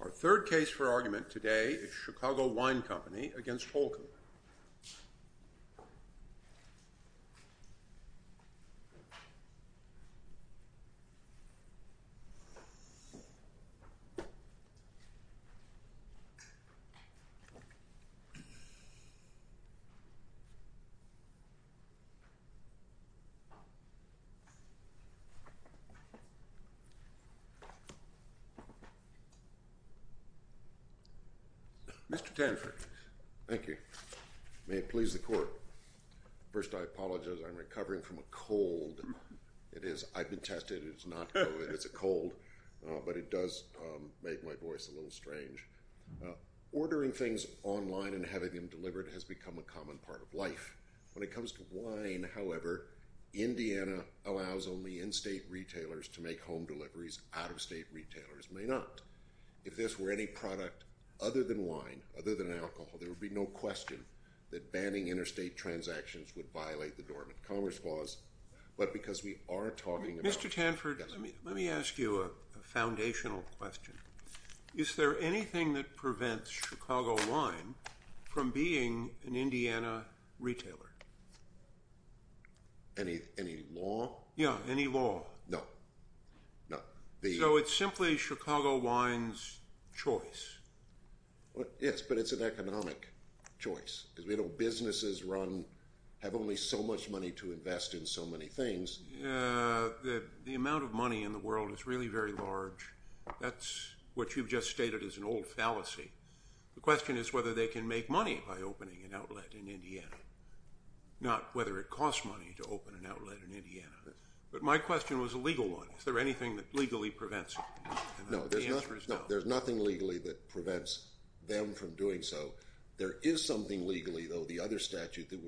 Our third case for argument today is Chicago Wine Company v. Holcomb. Mr. Tanford Thank you. May it please the Court. First, I apologize. I'm recovering from a cold. I've been tested. It's not COVID. It's a cold. But it does make my voice a little strange. Ordering things online and having them delivered has become a common part of life. When it comes to wine, however, Indiana allows only in-state retailers to make home deliveries. Out-of-state retailers may not. If this were any product other than wine, other than alcohol, there would be no question that banning interstate transactions would violate the Dormant Commerce Clause. But because we are talking about Mr. Tanford, let me ask you a foundational question. Is there anything that prevents Chicago Wine from being an Indiana retailer? Any law? Yeah, any law. No, no. So it's simply Chicago Wine's choice. Yes, but it's an economic choice. Because we know businesses run – have only so much money to invest in so many things. The amount of money in the world is really very large. That's what you've just stated is an old fallacy. The question is whether they can make money by opening an outlet in Indiana, not whether it costs money to open an outlet in Indiana. But my question was a legal one. Is there anything that legally prevents it? No, there's nothing legally that prevents them from doing so. There is something legally, though, the other statute that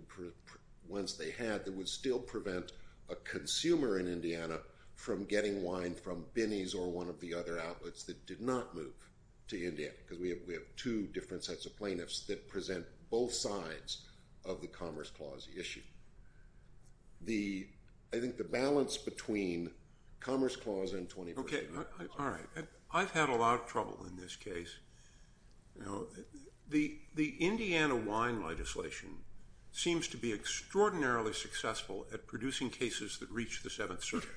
once they had that would still prevent a consumer in Indiana from getting wine from Binney's or one of the other outlets that did not move to Indiana. Because we have two different sets of plaintiffs that present both sides of the Commerce Clause issue. The – I think the balance between Commerce Clause and 21st Amendment. Okay, all right. I've had a lot of trouble in this case. The Indiana wine legislation seems to be extraordinarily successful at producing cases that reach the Seventh Circuit.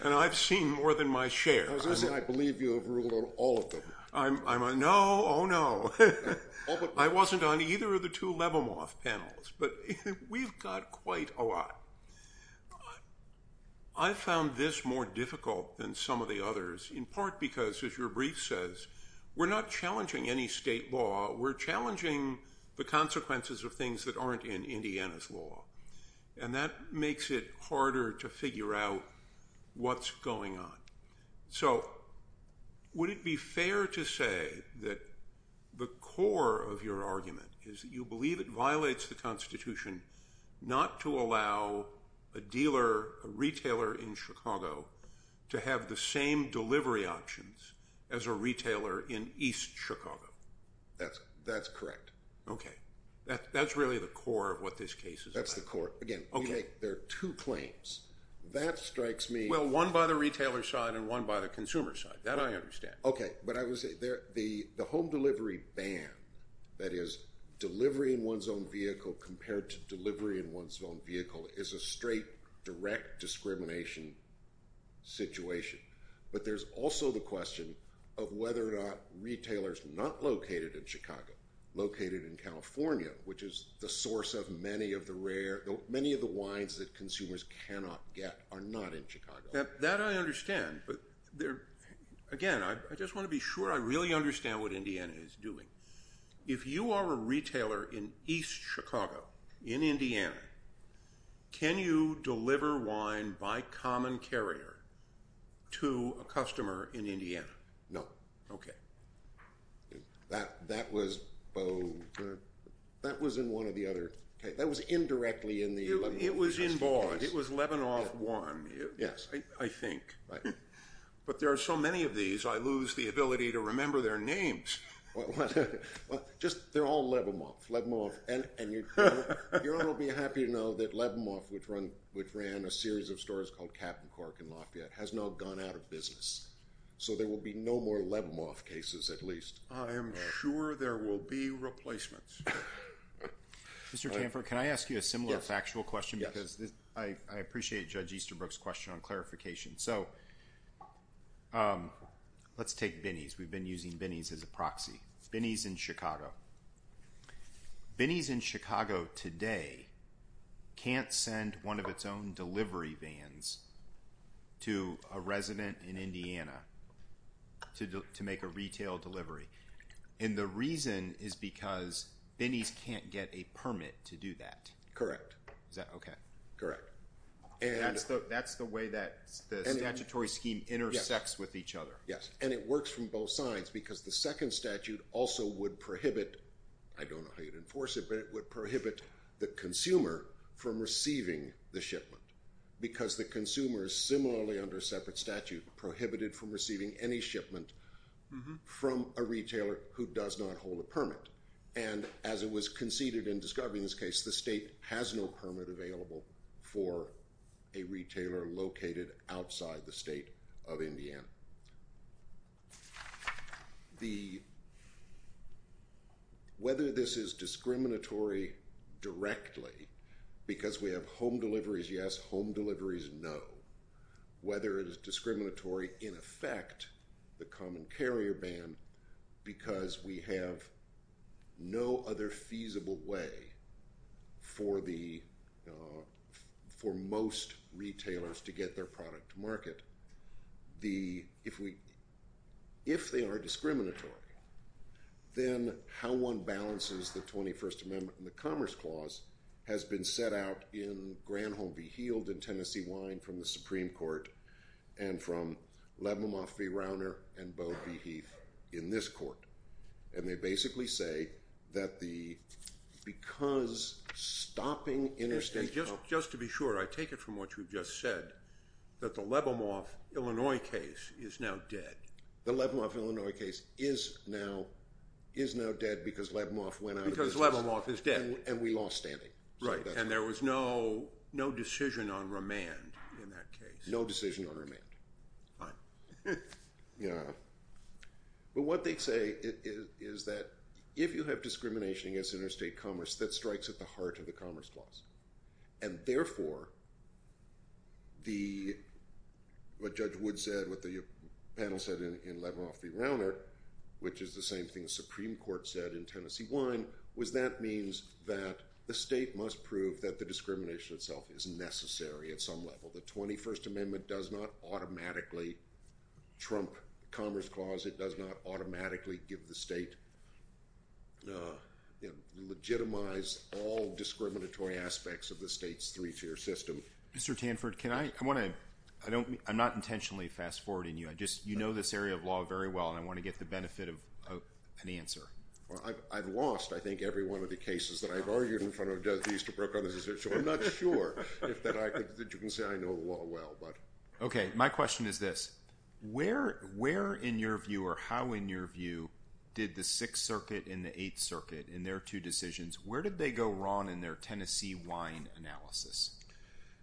And I've seen more than my share. I believe you have ruled on all of them. No, oh, no. I wasn't on either of the two Levimoff panels. But we've got quite a lot. I found this more difficult than some of the others in part because, as your brief says, we're not challenging any state law. We're challenging the consequences of things that aren't in Indiana's law. And that makes it harder to figure out what's going on. So would it be fair to say that the core of your argument is that you believe it violates the Constitution not to allow a dealer, a retailer in Chicago, to have the same delivery options as a retailer in East Chicago? That's correct. Okay. That's really the core of what this case is about. That's the core. Again, there are two claims. That strikes me. Well, one by the retailer's side and one by the consumer's side. That I understand. Okay. But the home delivery ban, that is, delivery in one's own vehicle compared to delivery in one's own vehicle, is a straight, direct discrimination situation. But there's also the question of whether or not retailers not located in Chicago, located in California, which is the source of many of the wines that consumers cannot get, are not in Chicago. That I understand. But again, I just want to be sure I really understand what Indiana is doing. If you are a retailer in East Chicago, in Indiana, can you deliver wine by common carrier to a customer in Indiana? No. Okay. That was in one or the other. That was indirectly in the… It was in Vaughan. It was Lebanon 1, I think. Right. But there are so many of these, I lose the ability to remember their names. What? Just, they're all Levimoff. Levimoff. And your Honor will be happy to know that Levimoff, which ran a series of stores called Cap'n Cork in Lafayette, has now gone out of business. So there will be no more Levimoff cases, at least. I am sure there will be replacements. Mr. Tamford, can I ask you a similar factual question? Yes. Because I appreciate Judge Easterbrook's question on clarification. So, let's take Binnie's. We've been using Binnie's as a proxy. Binnie's in Chicago. Binnie's in Chicago today can't send one of its own delivery vans to a resident in Indiana to make a retail delivery. And the reason is because Binnie's can't get a permit to do that. Correct. Is that okay? Correct. That's the way that the statutory scheme intersects with each other. Yes. And it works from both sides because the second statute also would prohibit, I don't know how you'd enforce it, but it would prohibit the consumer from receiving the shipment. Because the consumer is similarly under a separate statute, prohibited from receiving any shipment from a retailer who does not hold a permit. And as it was conceded in this case, the state has no permit available for a retailer located outside the state of Indiana. Whether this is discriminatory directly because we have home deliveries, yes, home deliveries, no. Whether it is discriminatory in effect, the common carrier ban, because we have no other feasible way for most retailers to get their product to market. If they are discriminatory, then how one balances the 21st Amendment and the Commerce Clause has been set out in Granholm v. Heald and Tennessee Wine from the Supreme Court and from Lebomoff v. Rauner and Bowe v. Heath in this court. And they basically say that because stopping interstate— Just to be sure, I take it from what you've just said, that the Lebomoff, Illinois case is now dead. The Lebomoff, Illinois case is now dead because Lebomoff went out of business. Because Lebomoff is dead. And we lost standing. Right, and there was no decision on remand in that case. No decision on remand. Fine. But what they say is that if you have discrimination against interstate commerce, that strikes at the heart of the Commerce Clause. And therefore, what Judge Wood said, what the panel said in Lebomoff v. Rauner, which is the same thing the Supreme Court said in Tennessee Wine, was that means that the state must prove that the discrimination itself is necessary at some level. The 21st Amendment does not automatically trump Commerce Clause. It does not automatically legitimize all discriminatory aspects of the state's three-tier system. Mr. Tanford, I'm not intentionally fast-forwarding you. You know this area of law very well, and I want to get the benefit of an answer. I've lost, I think, every one of the cases that I've argued in front of Judge Easterbrook on this issue. I'm not sure that you can say I know the law well. Okay, my question is this. Where, in your view, or how, in your view, did the Sixth Circuit and the Eighth Circuit in their two decisions, where did they go wrong in their Tennessee Wine analysis?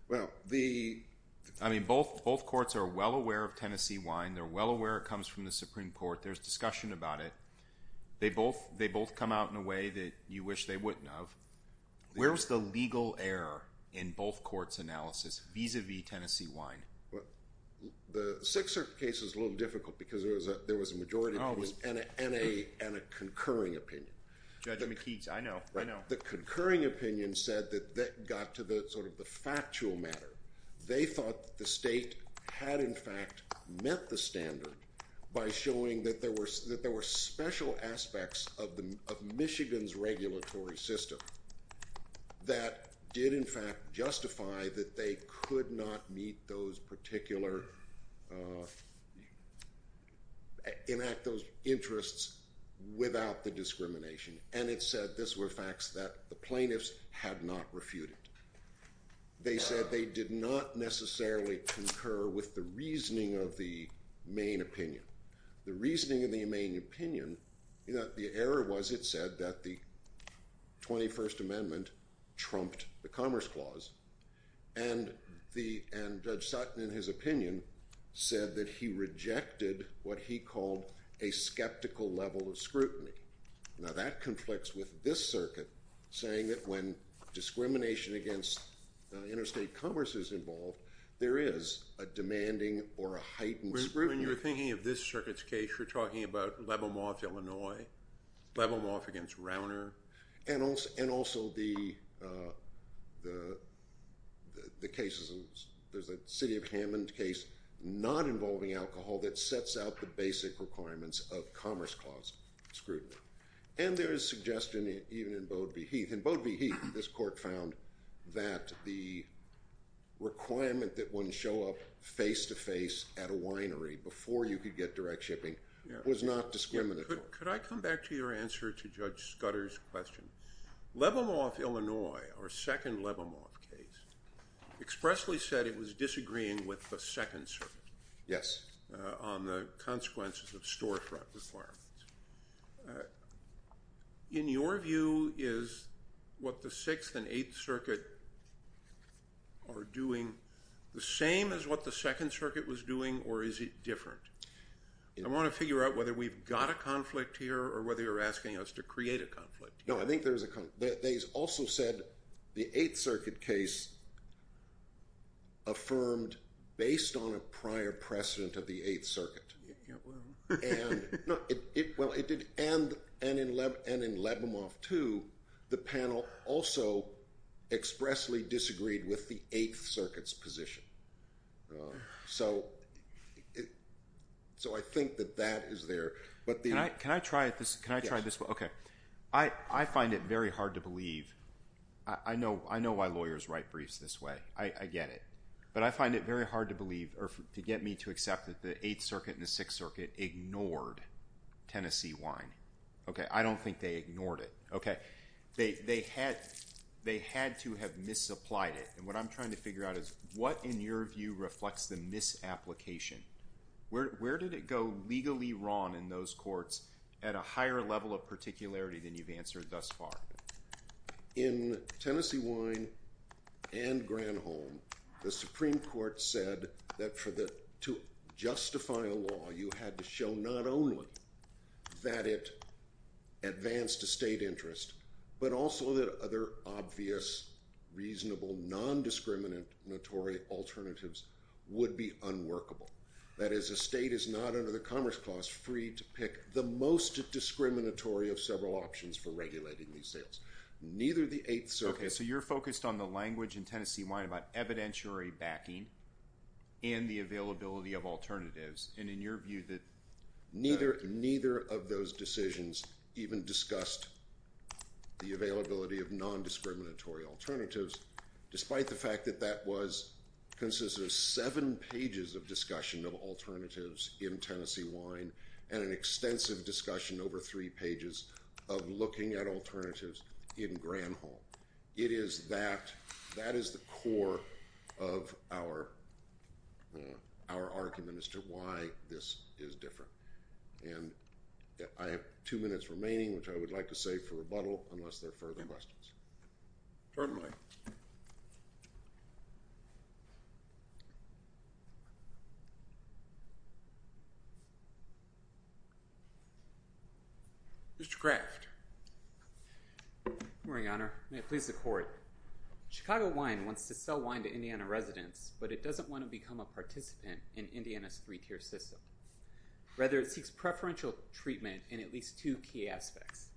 Well, the… I mean, both courts are well aware of Tennessee Wine. They're well aware it comes from the Supreme Court. There's discussion about it. They both come out in a way that you wish they wouldn't have. Where was the legal error in both courts' analysis vis-à-vis Tennessee Wine? Well, the Sixth Circuit case is a little difficult because there was a majority and a concurring opinion. Judge McKee, I know, I know. The concurring opinion said that that got to the sort of the factual matter. They thought the state had, in fact, met the standard by showing that there were special aspects of Michigan's regulatory system that did, in fact, justify that they could not meet those particular… enact those interests without the discrimination. And it said this were facts that the plaintiffs had not refuted. They said they did not necessarily concur with the reasoning of the main opinion. The reasoning of the main opinion, the error was it said that the 21st Amendment trumped the Commerce Clause. And Judge Sutton, in his opinion, said that he rejected what he called a skeptical level of scrutiny. Now, that conflicts with this circuit saying that when discrimination against interstate commerce is involved, there is a demanding or a heightened scrutiny. When you're thinking of this circuit's case, you're talking about Lebo Moffe, Illinois, Lebo Moffe against Rauner. And also the cases of – there's a City of Hammond case not involving alcohol that sets out the basic requirements of Commerce Clause scrutiny. And there is suggestion even in Bode v. Heath. In Bode v. Heath, this court found that the requirement that one show up face-to-face at a winery before you could get direct shipping was not discriminatory. Could I come back to your answer to Judge Scudder's question? Lebo Moffe, Illinois, our second Lebo Moffe case, expressly said it was disagreeing with the Second Circuit on the consequences of storefront requirements. In your view, is what the Sixth and Eighth Circuit are doing the same as what the Second Circuit was doing, or is it different? I want to figure out whether we've got a conflict here or whether you're asking us to create a conflict here. No, I think there's a – they also said the Eighth Circuit case affirmed based on a prior precedent of the Eighth Circuit. And in Lebo Moffe too, the panel also expressly disagreed with the Eighth Circuit's position. So I think that that is there. Can I try this? Yes. I find it very hard to believe. I know why lawyers write briefs this way. I get it. But I find it very hard to believe or to get me to accept that the Eighth Circuit and the Sixth Circuit ignored Tennessee wine. I don't think they ignored it. Okay. They had to have misapplied it. And what I'm trying to figure out is what, in your view, reflects the misapplication? Where did it go legally wrong in those courts at a higher level of particularity than you've answered thus far? In Tennessee wine and Granholm, the Supreme Court said that to justify a law, you had to show not only that it advanced a state interest, but also that other obvious, reasonable, nondiscriminatory alternatives would be unworkable. That is, a state is not under the Commerce Clause free to pick the most discriminatory of several options for regulating these sales. Neither the Eighth Circuit— Okay. So you're focused on the language in Tennessee wine about evidentiary backing and the availability of alternatives. And in your view, that— Neither of those decisions even discussed the availability of nondiscriminatory alternatives, despite the fact that that was—consists of seven pages of discussion of alternatives in Tennessee wine and an extensive discussion over three pages of looking at alternatives in Granholm. It is that—that is the core of our argument as to why this is different. And I have two minutes remaining, which I would like to save for rebuttal, unless there are further questions. Turn the mic. Mr. Kraft. Good morning, Your Honor. May it please the Court. Chicago Wine wants to sell wine to Indiana residents, but it doesn't want to become a participant in Indiana's three-tier system. Rather, it seeks preferential treatment in at least two key aspects.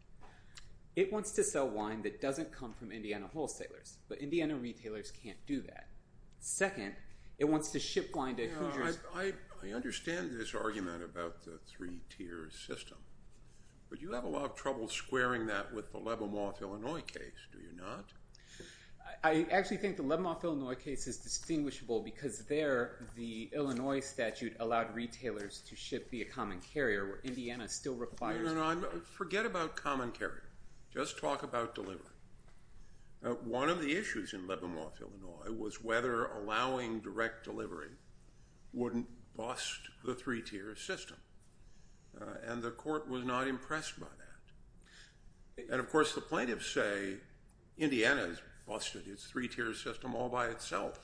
It wants to sell wine that doesn't come from Indiana wholesalers, but Indiana retailers can't do that. Second, it wants to ship wine to Hoosiers— Now, I understand this argument about the three-tier system, but you have a lot of trouble squaring that with the Lebemoff, Illinois case, do you not? I actually think the Lebemoff, Illinois case is distinguishable because there, the Illinois statute allowed retailers to ship via common carrier, where Indiana still requires— Forget about common carrier. Just talk about delivery. One of the issues in Lebemoff, Illinois, was whether allowing direct delivery wouldn't bust the three-tier system. And the Court was not impressed by that. And, of course, the plaintiffs say Indiana has busted its three-tier system all by itself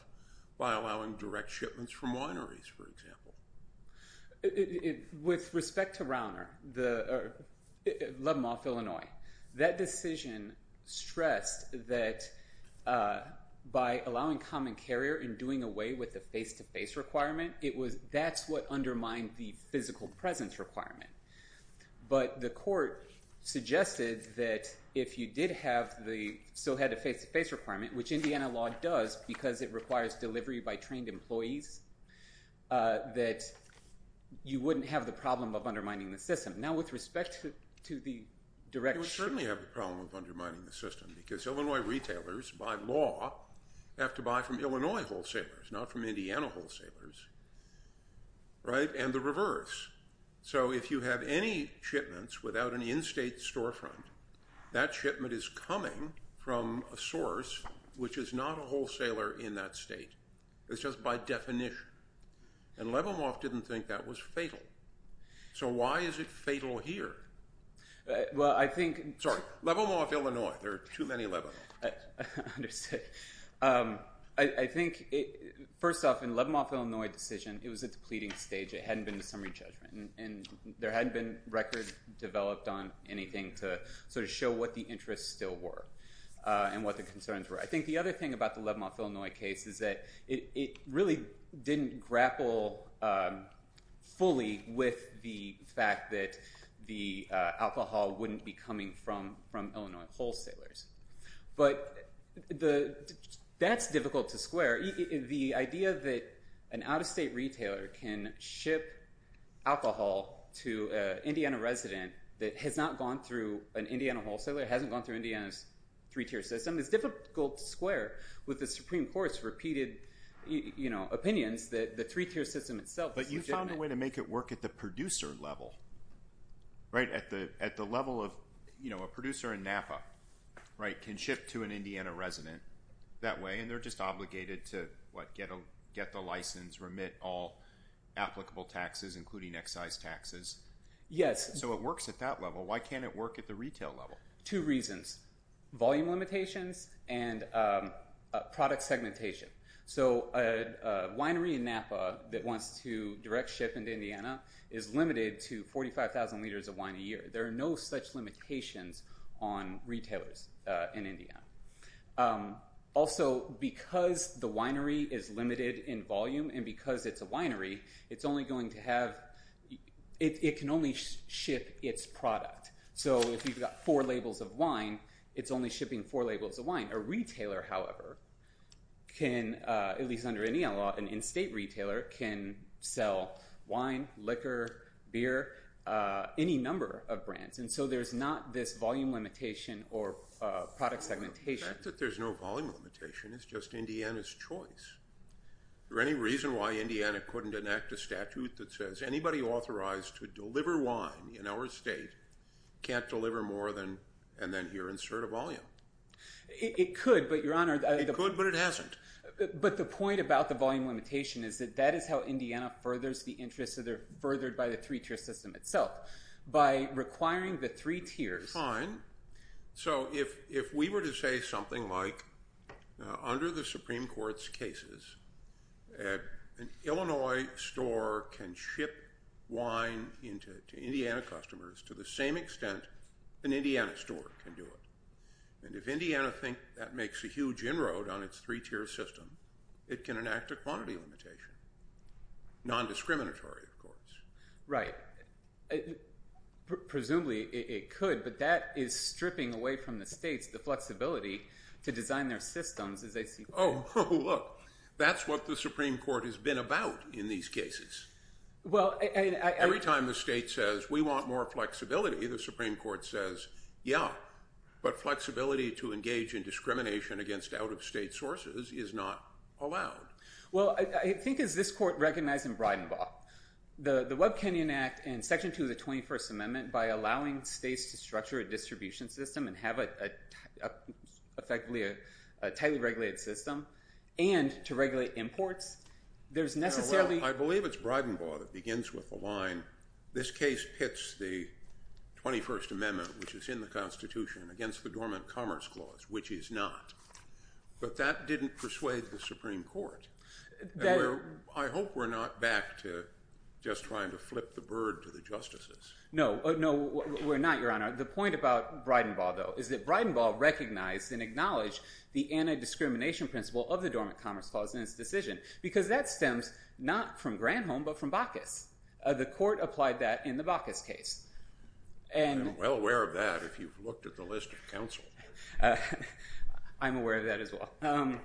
by allowing direct shipments from wineries, for example. With respect to Rauner—Lebemoff, Illinois— that decision stressed that by allowing common carrier and doing away with the face-to-face requirement, that's what undermined the physical presence requirement. But the Court suggested that if you did have the—still had the face-to-face requirement, which Indiana law does because it requires delivery by trained employees, that you wouldn't have the problem of undermining the system. Now, with respect to the direct— You would certainly have the problem of undermining the system because Illinois retailers, by law, have to buy from Illinois wholesalers, not from Indiana wholesalers, right? And the reverse. So if you have any shipments without an in-state storefront, that shipment is coming from a source which is not a wholesaler in that state. It's just by definition. And Lebemoff didn't think that was fatal. So why is it fatal here? Well, I think— Sorry, Lebemoff, Illinois. There are too many Lebemoffs. I think, first off, in the Lebemoff, Illinois decision, it was a depleting stage. It hadn't been a summary judgment. And there hadn't been records developed on anything to sort of show what the interests still were and what the concerns were. I think the other thing about the Lebemoff, Illinois case is that it really didn't grapple fully with the fact that the alcohol wouldn't be coming from Illinois wholesalers. But that's difficult to square. The idea that an out-of-state retailer can ship alcohol to an Indiana resident that has not gone through an Indiana wholesaler, hasn't gone through Indiana's three-tier system, is difficult to square with the Supreme Court's repeated opinions that the three-tier system itself is legitimate. But you found a way to make it work at the producer level, right? At the level of a producer in Napa can ship to an Indiana resident that way, and they're just obligated to get the license, remit all applicable taxes, including excise taxes. Yes. So it works at that level. Why can't it work at the retail level? Two reasons. Volume limitations and product segmentation. So a winery in Napa that wants to direct ship into Indiana is limited to 45,000 liters of wine a year. There are no such limitations on retailers in Indiana. Also, because the winery is limited in volume and because it's a winery, it can only ship its product. So if you've got four labels of wine, it's only shipping four labels of wine. A retailer, however, can, at least under Indiana law, an in-state retailer, can sell wine, liquor, beer, any number of brands. And so there's not this volume limitation or product segmentation. The fact that there's no volume limitation is just Indiana's choice. Is there any reason why Indiana couldn't enact a statute that says anybody authorized to deliver wine in our state can't deliver more than – and then here, insert a volume? It could, but, Your Honor – It could, but it hasn't. But the point about the volume limitation is that that is how Indiana furthers the interests that are furthered by the three-tier system itself. By requiring the three tiers – So if we were to say something like, under the Supreme Court's cases, an Illinois store can ship wine to Indiana customers to the same extent an Indiana store can do it. And if Indiana thinks that makes a huge inroad on its three-tier system, it can enact a quantity limitation, nondiscriminatory, of course. Right. Presumably, it could, but that is stripping away from the states the flexibility to design their systems as they see fit. Oh, look. That's what the Supreme Court has been about in these cases. Well, I – Every time the state says, we want more flexibility, the Supreme Court says, yeah, but flexibility to engage in discrimination against out-of-state sources is not allowed. Well, I think as this Court recognized in Breidenbaugh, the Webb-Kenyon Act and Section 2 of the 21st Amendment, by allowing states to structure a distribution system and have effectively a tightly regulated system and to regulate imports, there's necessarily – I believe it's Breidenbaugh that begins with the line, this case pits the 21st Amendment, which is in the Constitution, against the Dormant Commerce Clause, which is not. But that didn't persuade the Supreme Court. That – I hope we're not back to just trying to flip the bird to the justices. No. No, we're not, Your Honor. The point about Breidenbaugh, though, is that Breidenbaugh recognized and acknowledged the anti-discrimination principle of the Dormant Commerce Clause in its decision because that stems not from Granholm but from Bacchus. The Court applied that in the Bacchus case. I'm well aware of that if you've looked at the list of counsel. I'm aware of that as well.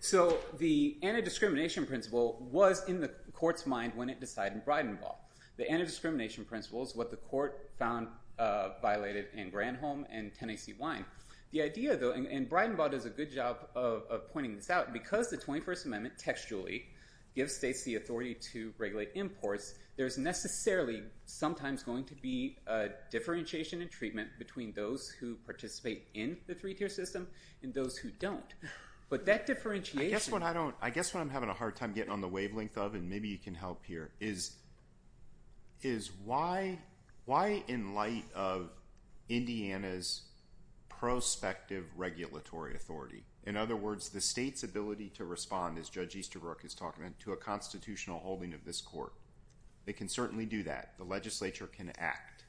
So the anti-discrimination principle was in the Court's mind when it decided in Breidenbaugh. The anti-discrimination principle is what the Court found violated in Granholm and Tennessee Wine. The idea, though – and Breidenbaugh does a good job of pointing this out. Because the 21st Amendment textually gives states the authority to regulate imports, there's necessarily sometimes going to be a differentiation in treatment between those who participate in the three-tier system and those who don't. But that differentiation – I guess what I'm having a hard time getting on the wavelength of, and maybe you can help here, is why in light of Indiana's prospective regulatory authority – in other words, the state's ability to respond, as Judge Easterbrook is talking about, to a constitutional holding of this Court. They can certainly do that. The legislature can act.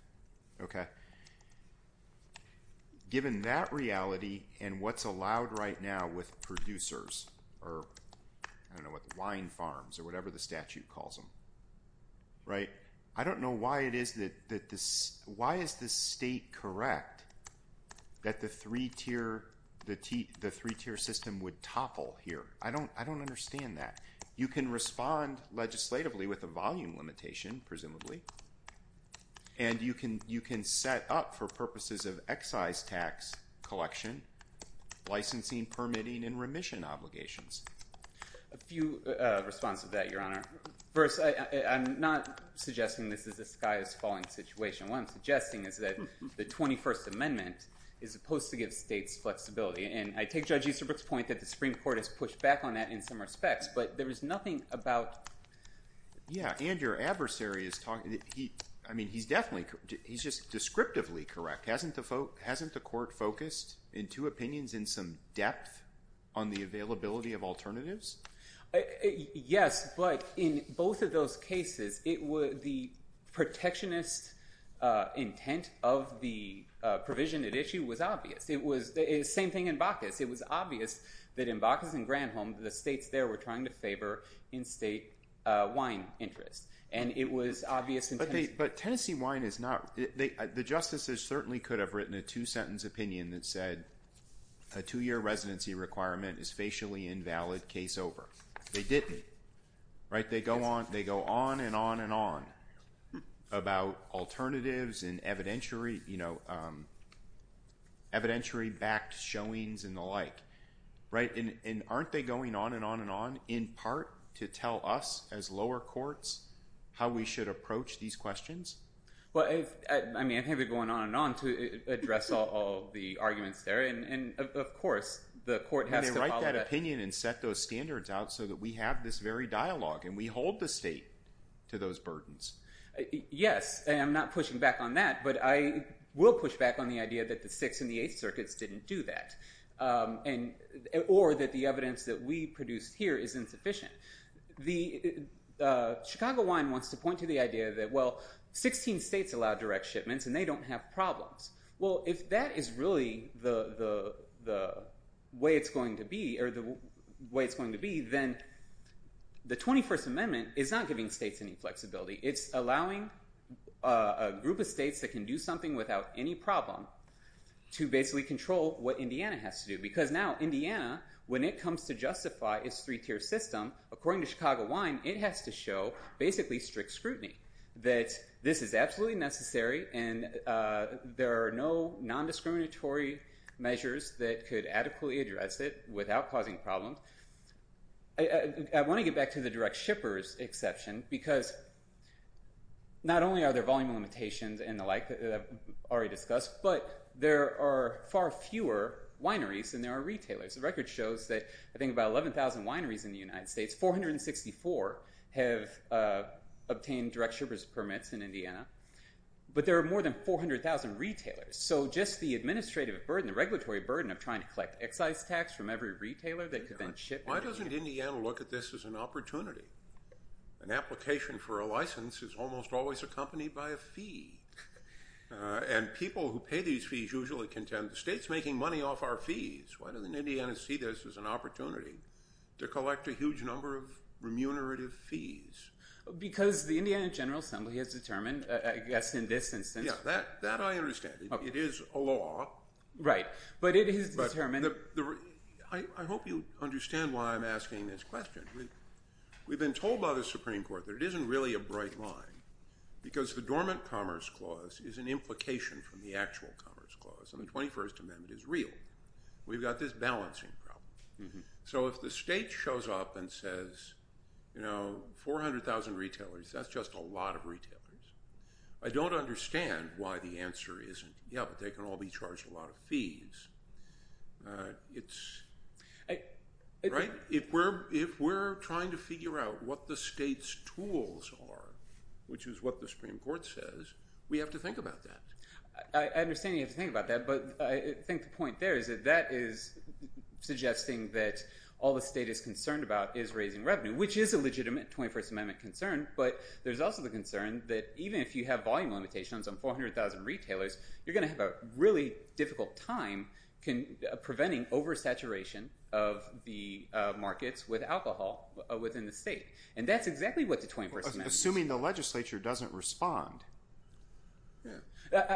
Given that reality and what's allowed right now with producers or, I don't know, with wine farms or whatever the statute calls them, I don't know why it is that – why is the state correct that the three-tier system would topple here? I don't understand that. You can respond legislatively with a volume limitation, presumably. And you can set up for purposes of excise tax collection, licensing, permitting, and remission obligations. A few responses to that, Your Honor. First, I'm not suggesting this is a sky-is-falling situation. What I'm suggesting is that the 21st Amendment is supposed to give states flexibility. And I take Judge Easterbrook's point that the Supreme Court has pushed back on that in some respects, but there is nothing about… Yeah, and your adversary is talking – I mean he's definitely – he's just descriptively correct. Hasn't the Court focused in two opinions in some depth on the availability of alternatives? Yes, but in both of those cases, the protectionist intent of the provision at issue was obvious. It was the same thing in Bacchus. It was obvious that in Bacchus and Granholm, the states there were trying to favor in-state wine interests, and it was obvious in Tennessee. But Tennessee wine is not – the justices certainly could have written a two-sentence opinion that said a two-year residency requirement is facially invalid, case over. They didn't, right? They go on and on and on about alternatives and evidentiary-backed showings and the like, right? And aren't they going on and on and on in part to tell us as lower courts how we should approach these questions? Well, I mean I think they're going on and on to address all the arguments there, and of course the court has to follow that. standards out so that we have this very dialogue and we hold the state to those burdens. Yes, and I'm not pushing back on that, but I will push back on the idea that the Sixth and the Eighth Circuits didn't do that, or that the evidence that we produced here is insufficient. Chicago Wine wants to point to the idea that, well, 16 states allow direct shipments and they don't have problems. Well, if that is really the way it's going to be, then the 21st Amendment is not giving states any flexibility. It's allowing a group of states that can do something without any problem to basically control what Indiana has to do because now Indiana, when it comes to justify its three-tier system, according to Chicago Wine, it has to show basically strict scrutiny, that this is absolutely necessary and there are no nondiscriminatory measures that could adequately address it without causing problems. I want to get back to the direct shippers exception because not only are there volume limitations and the like that I've already discussed, but there are far fewer wineries than there are retailers. The record shows that I think about 11,000 wineries in the United States, 464 have obtained direct shippers permits in Indiana, but there are more than 400,000 retailers. So just the administrative burden, the regulatory burden of trying to collect excise tax from every retailer that could then ship. Why doesn't Indiana look at this as an opportunity? An application for a license is almost always accompanied by a fee. And people who pay these fees usually contend the state's making money off our fees. Why doesn't Indiana see this as an opportunity to collect a huge number of remunerative fees? Because the Indiana General Assembly has determined, I guess in this instance. Yeah, that I understand. It is a law. Right, but it is determined. I hope you understand why I'm asking this question. We've been told by the Supreme Court that it isn't really a bright line because the Dormant Commerce Clause is an implication from the actual Commerce Clause and the 21st Amendment is real. We've got this balancing problem. So if the state shows up and says, you know, 400,000 retailers, that's just a lot of retailers. I don't understand why the answer isn't, yeah, but they can all be charged a lot of fees. It's – right? If we're trying to figure out what the state's tools are, which is what the Supreme Court says, we have to think about that. I understand you have to think about that, but I think the point there is that that is suggesting that all the state is concerned about is raising revenue, which is a legitimate 21st Amendment concern, but there's also the concern that even if you have volume limitations on 400,000 retailers, you're going to have a really difficult time preventing oversaturation of the markets with alcohol within the state. And that's exactly what the 21st Amendment is. Assuming the legislature doesn't respond.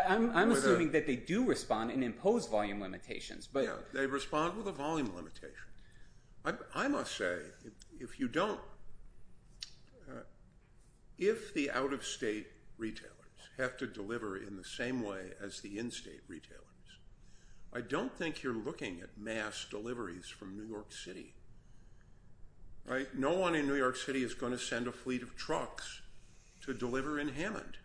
I'm assuming that they do respond and impose volume limitations. Yeah, they respond with a volume limitation. I must say if you don't – if the out-of-state retailers have to deliver in the same way as the in-state retailers, I don't think you're looking at mass deliveries from New York City. No one in New York City is going to send a fleet of trucks to deliver in Hammond.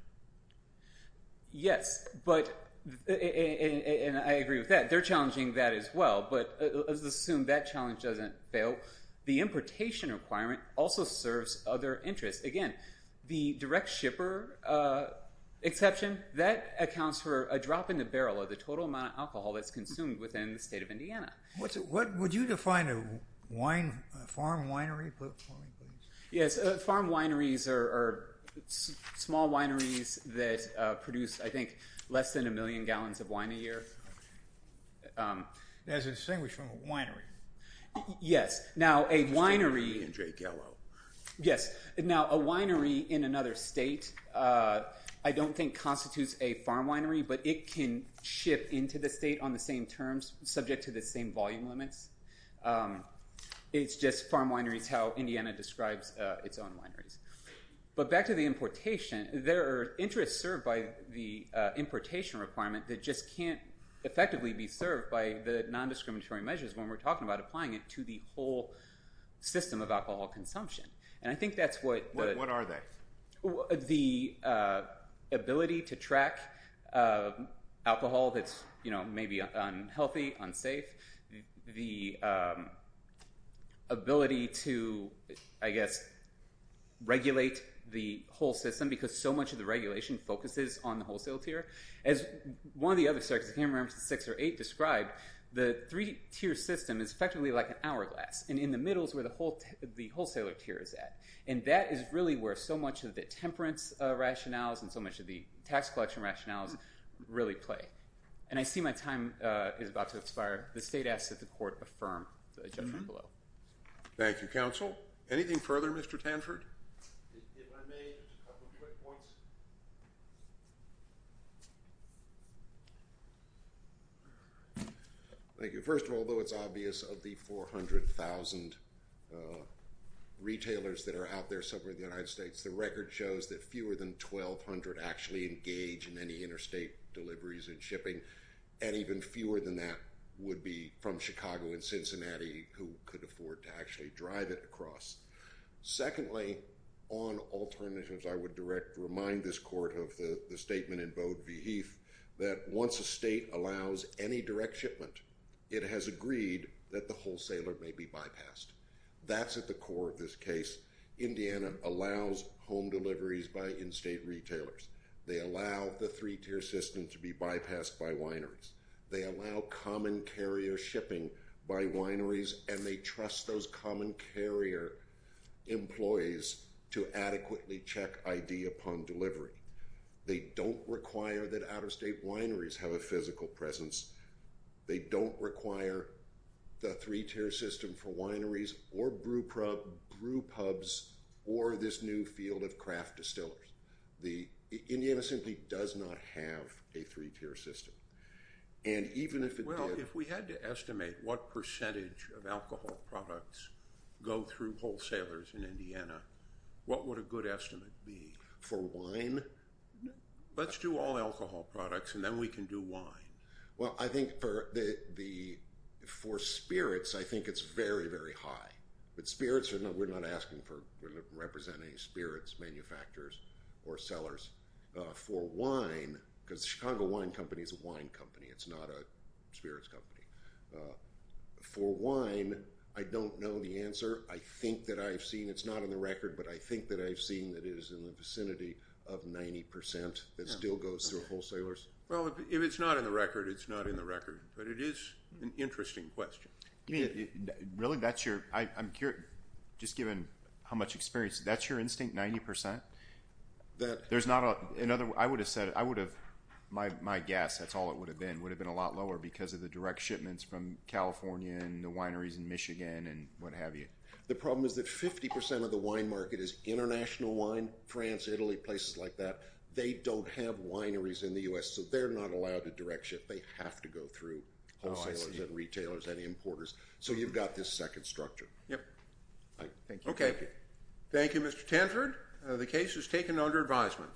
Yes, but – and I agree with that. They're challenging that as well, but let's assume that challenge doesn't fail. The importation requirement also serves other interests. Again, the direct shipper exception, that accounts for a drop in the barrel of the total amount of alcohol that's consumed within the state of Indiana. Would you define a farm winery for me, please? Yes, farm wineries are small wineries that produce, I think, less than a million gallons of wine a year. That's distinguished from a winery. Yes. Now, a winery – In Drake Yellow. Yes. Now, a winery in another state I don't think constitutes a farm winery, but it can ship into the state on the same terms, subject to the same volume limits. It's just farm winery is how Indiana describes its own wineries. But back to the importation, there are interests served by the importation requirement that just can't effectively be served by the nondiscriminatory measures when we're talking about applying it to the whole system of alcohol consumption. And I think that's what – What are they? The ability to track alcohol that's maybe unhealthy, unsafe. The ability to, I guess, regulate the whole system because so much of the regulation focuses on the wholesale tier. As one of the other circuits, camera 6 or 8, described, the three-tier system is effectively like an hourglass. And in the middle is where the wholesaler tier is at. And that is really where so much of the temperance rationales and so much of the tax collection rationales really play. And I see my time is about to expire. The state asks that the court affirm the judgment below. Thank you, counsel. Anything further, Mr. Tanford? If I may, just a couple quick points. Thank you. First of all, though it's obvious of the 400,000 retailers that are out there somewhere in the United States, the record shows that fewer than 1,200 actually engage in any interstate deliveries and shipping. And even fewer than that would be from Chicago and Cincinnati who could afford to actually drive it across. Secondly, on alternatives, I would direct, remind this court of the statement in Bode v. Heath, that once a state allows any direct shipment, it has agreed that the wholesaler may be bypassed. That's at the core of this case. Indiana allows home deliveries by in-state retailers. They allow the three-tier system to be bypassed by wineries. They allow common carrier shipping by wineries and they trust those common carrier employees to adequately check ID upon delivery. They don't require that out-of-state wineries have a physical presence. They don't require the three-tier system for wineries or brew pubs or this new field of craft distillers. Indiana simply does not have a three-tier system. And even if it did- Well, if we had to estimate what percentage of alcohol products go through wholesalers in Indiana, what would a good estimate be? For wine? Let's do all alcohol products and then we can do wine. Well, I think for spirits, I think it's very, very high. But spirits, we're not asking for representing spirits manufacturers or sellers. For wine, because the Chicago Wine Company is a wine company. It's not a spirits company. For wine, I don't know the answer. I think that I've seen, it's not on the record, but I think that I've seen that it is in the vicinity of 90% that still goes through wholesalers. Well, if it's not in the record, it's not in the record. But it is an interesting question. Really, that's your- I'm curious, just given how much experience, that's your instinct, 90%? There's not a- I would have said, I would have, my guess, that's all it would have been, would have been a lot lower because of the direct shipments from California and the wineries in Michigan and what have you. The problem is that 50% of the wine market is international wine, France, Italy, places like that. They don't have wineries in the U.S., so they're not allowed to direct ship. They have to go through wholesalers and retailers and importers. So you've got this second structure. Yep. Thank you. Okay. Thank you, Mr. Tenford. The case is taken under advisement.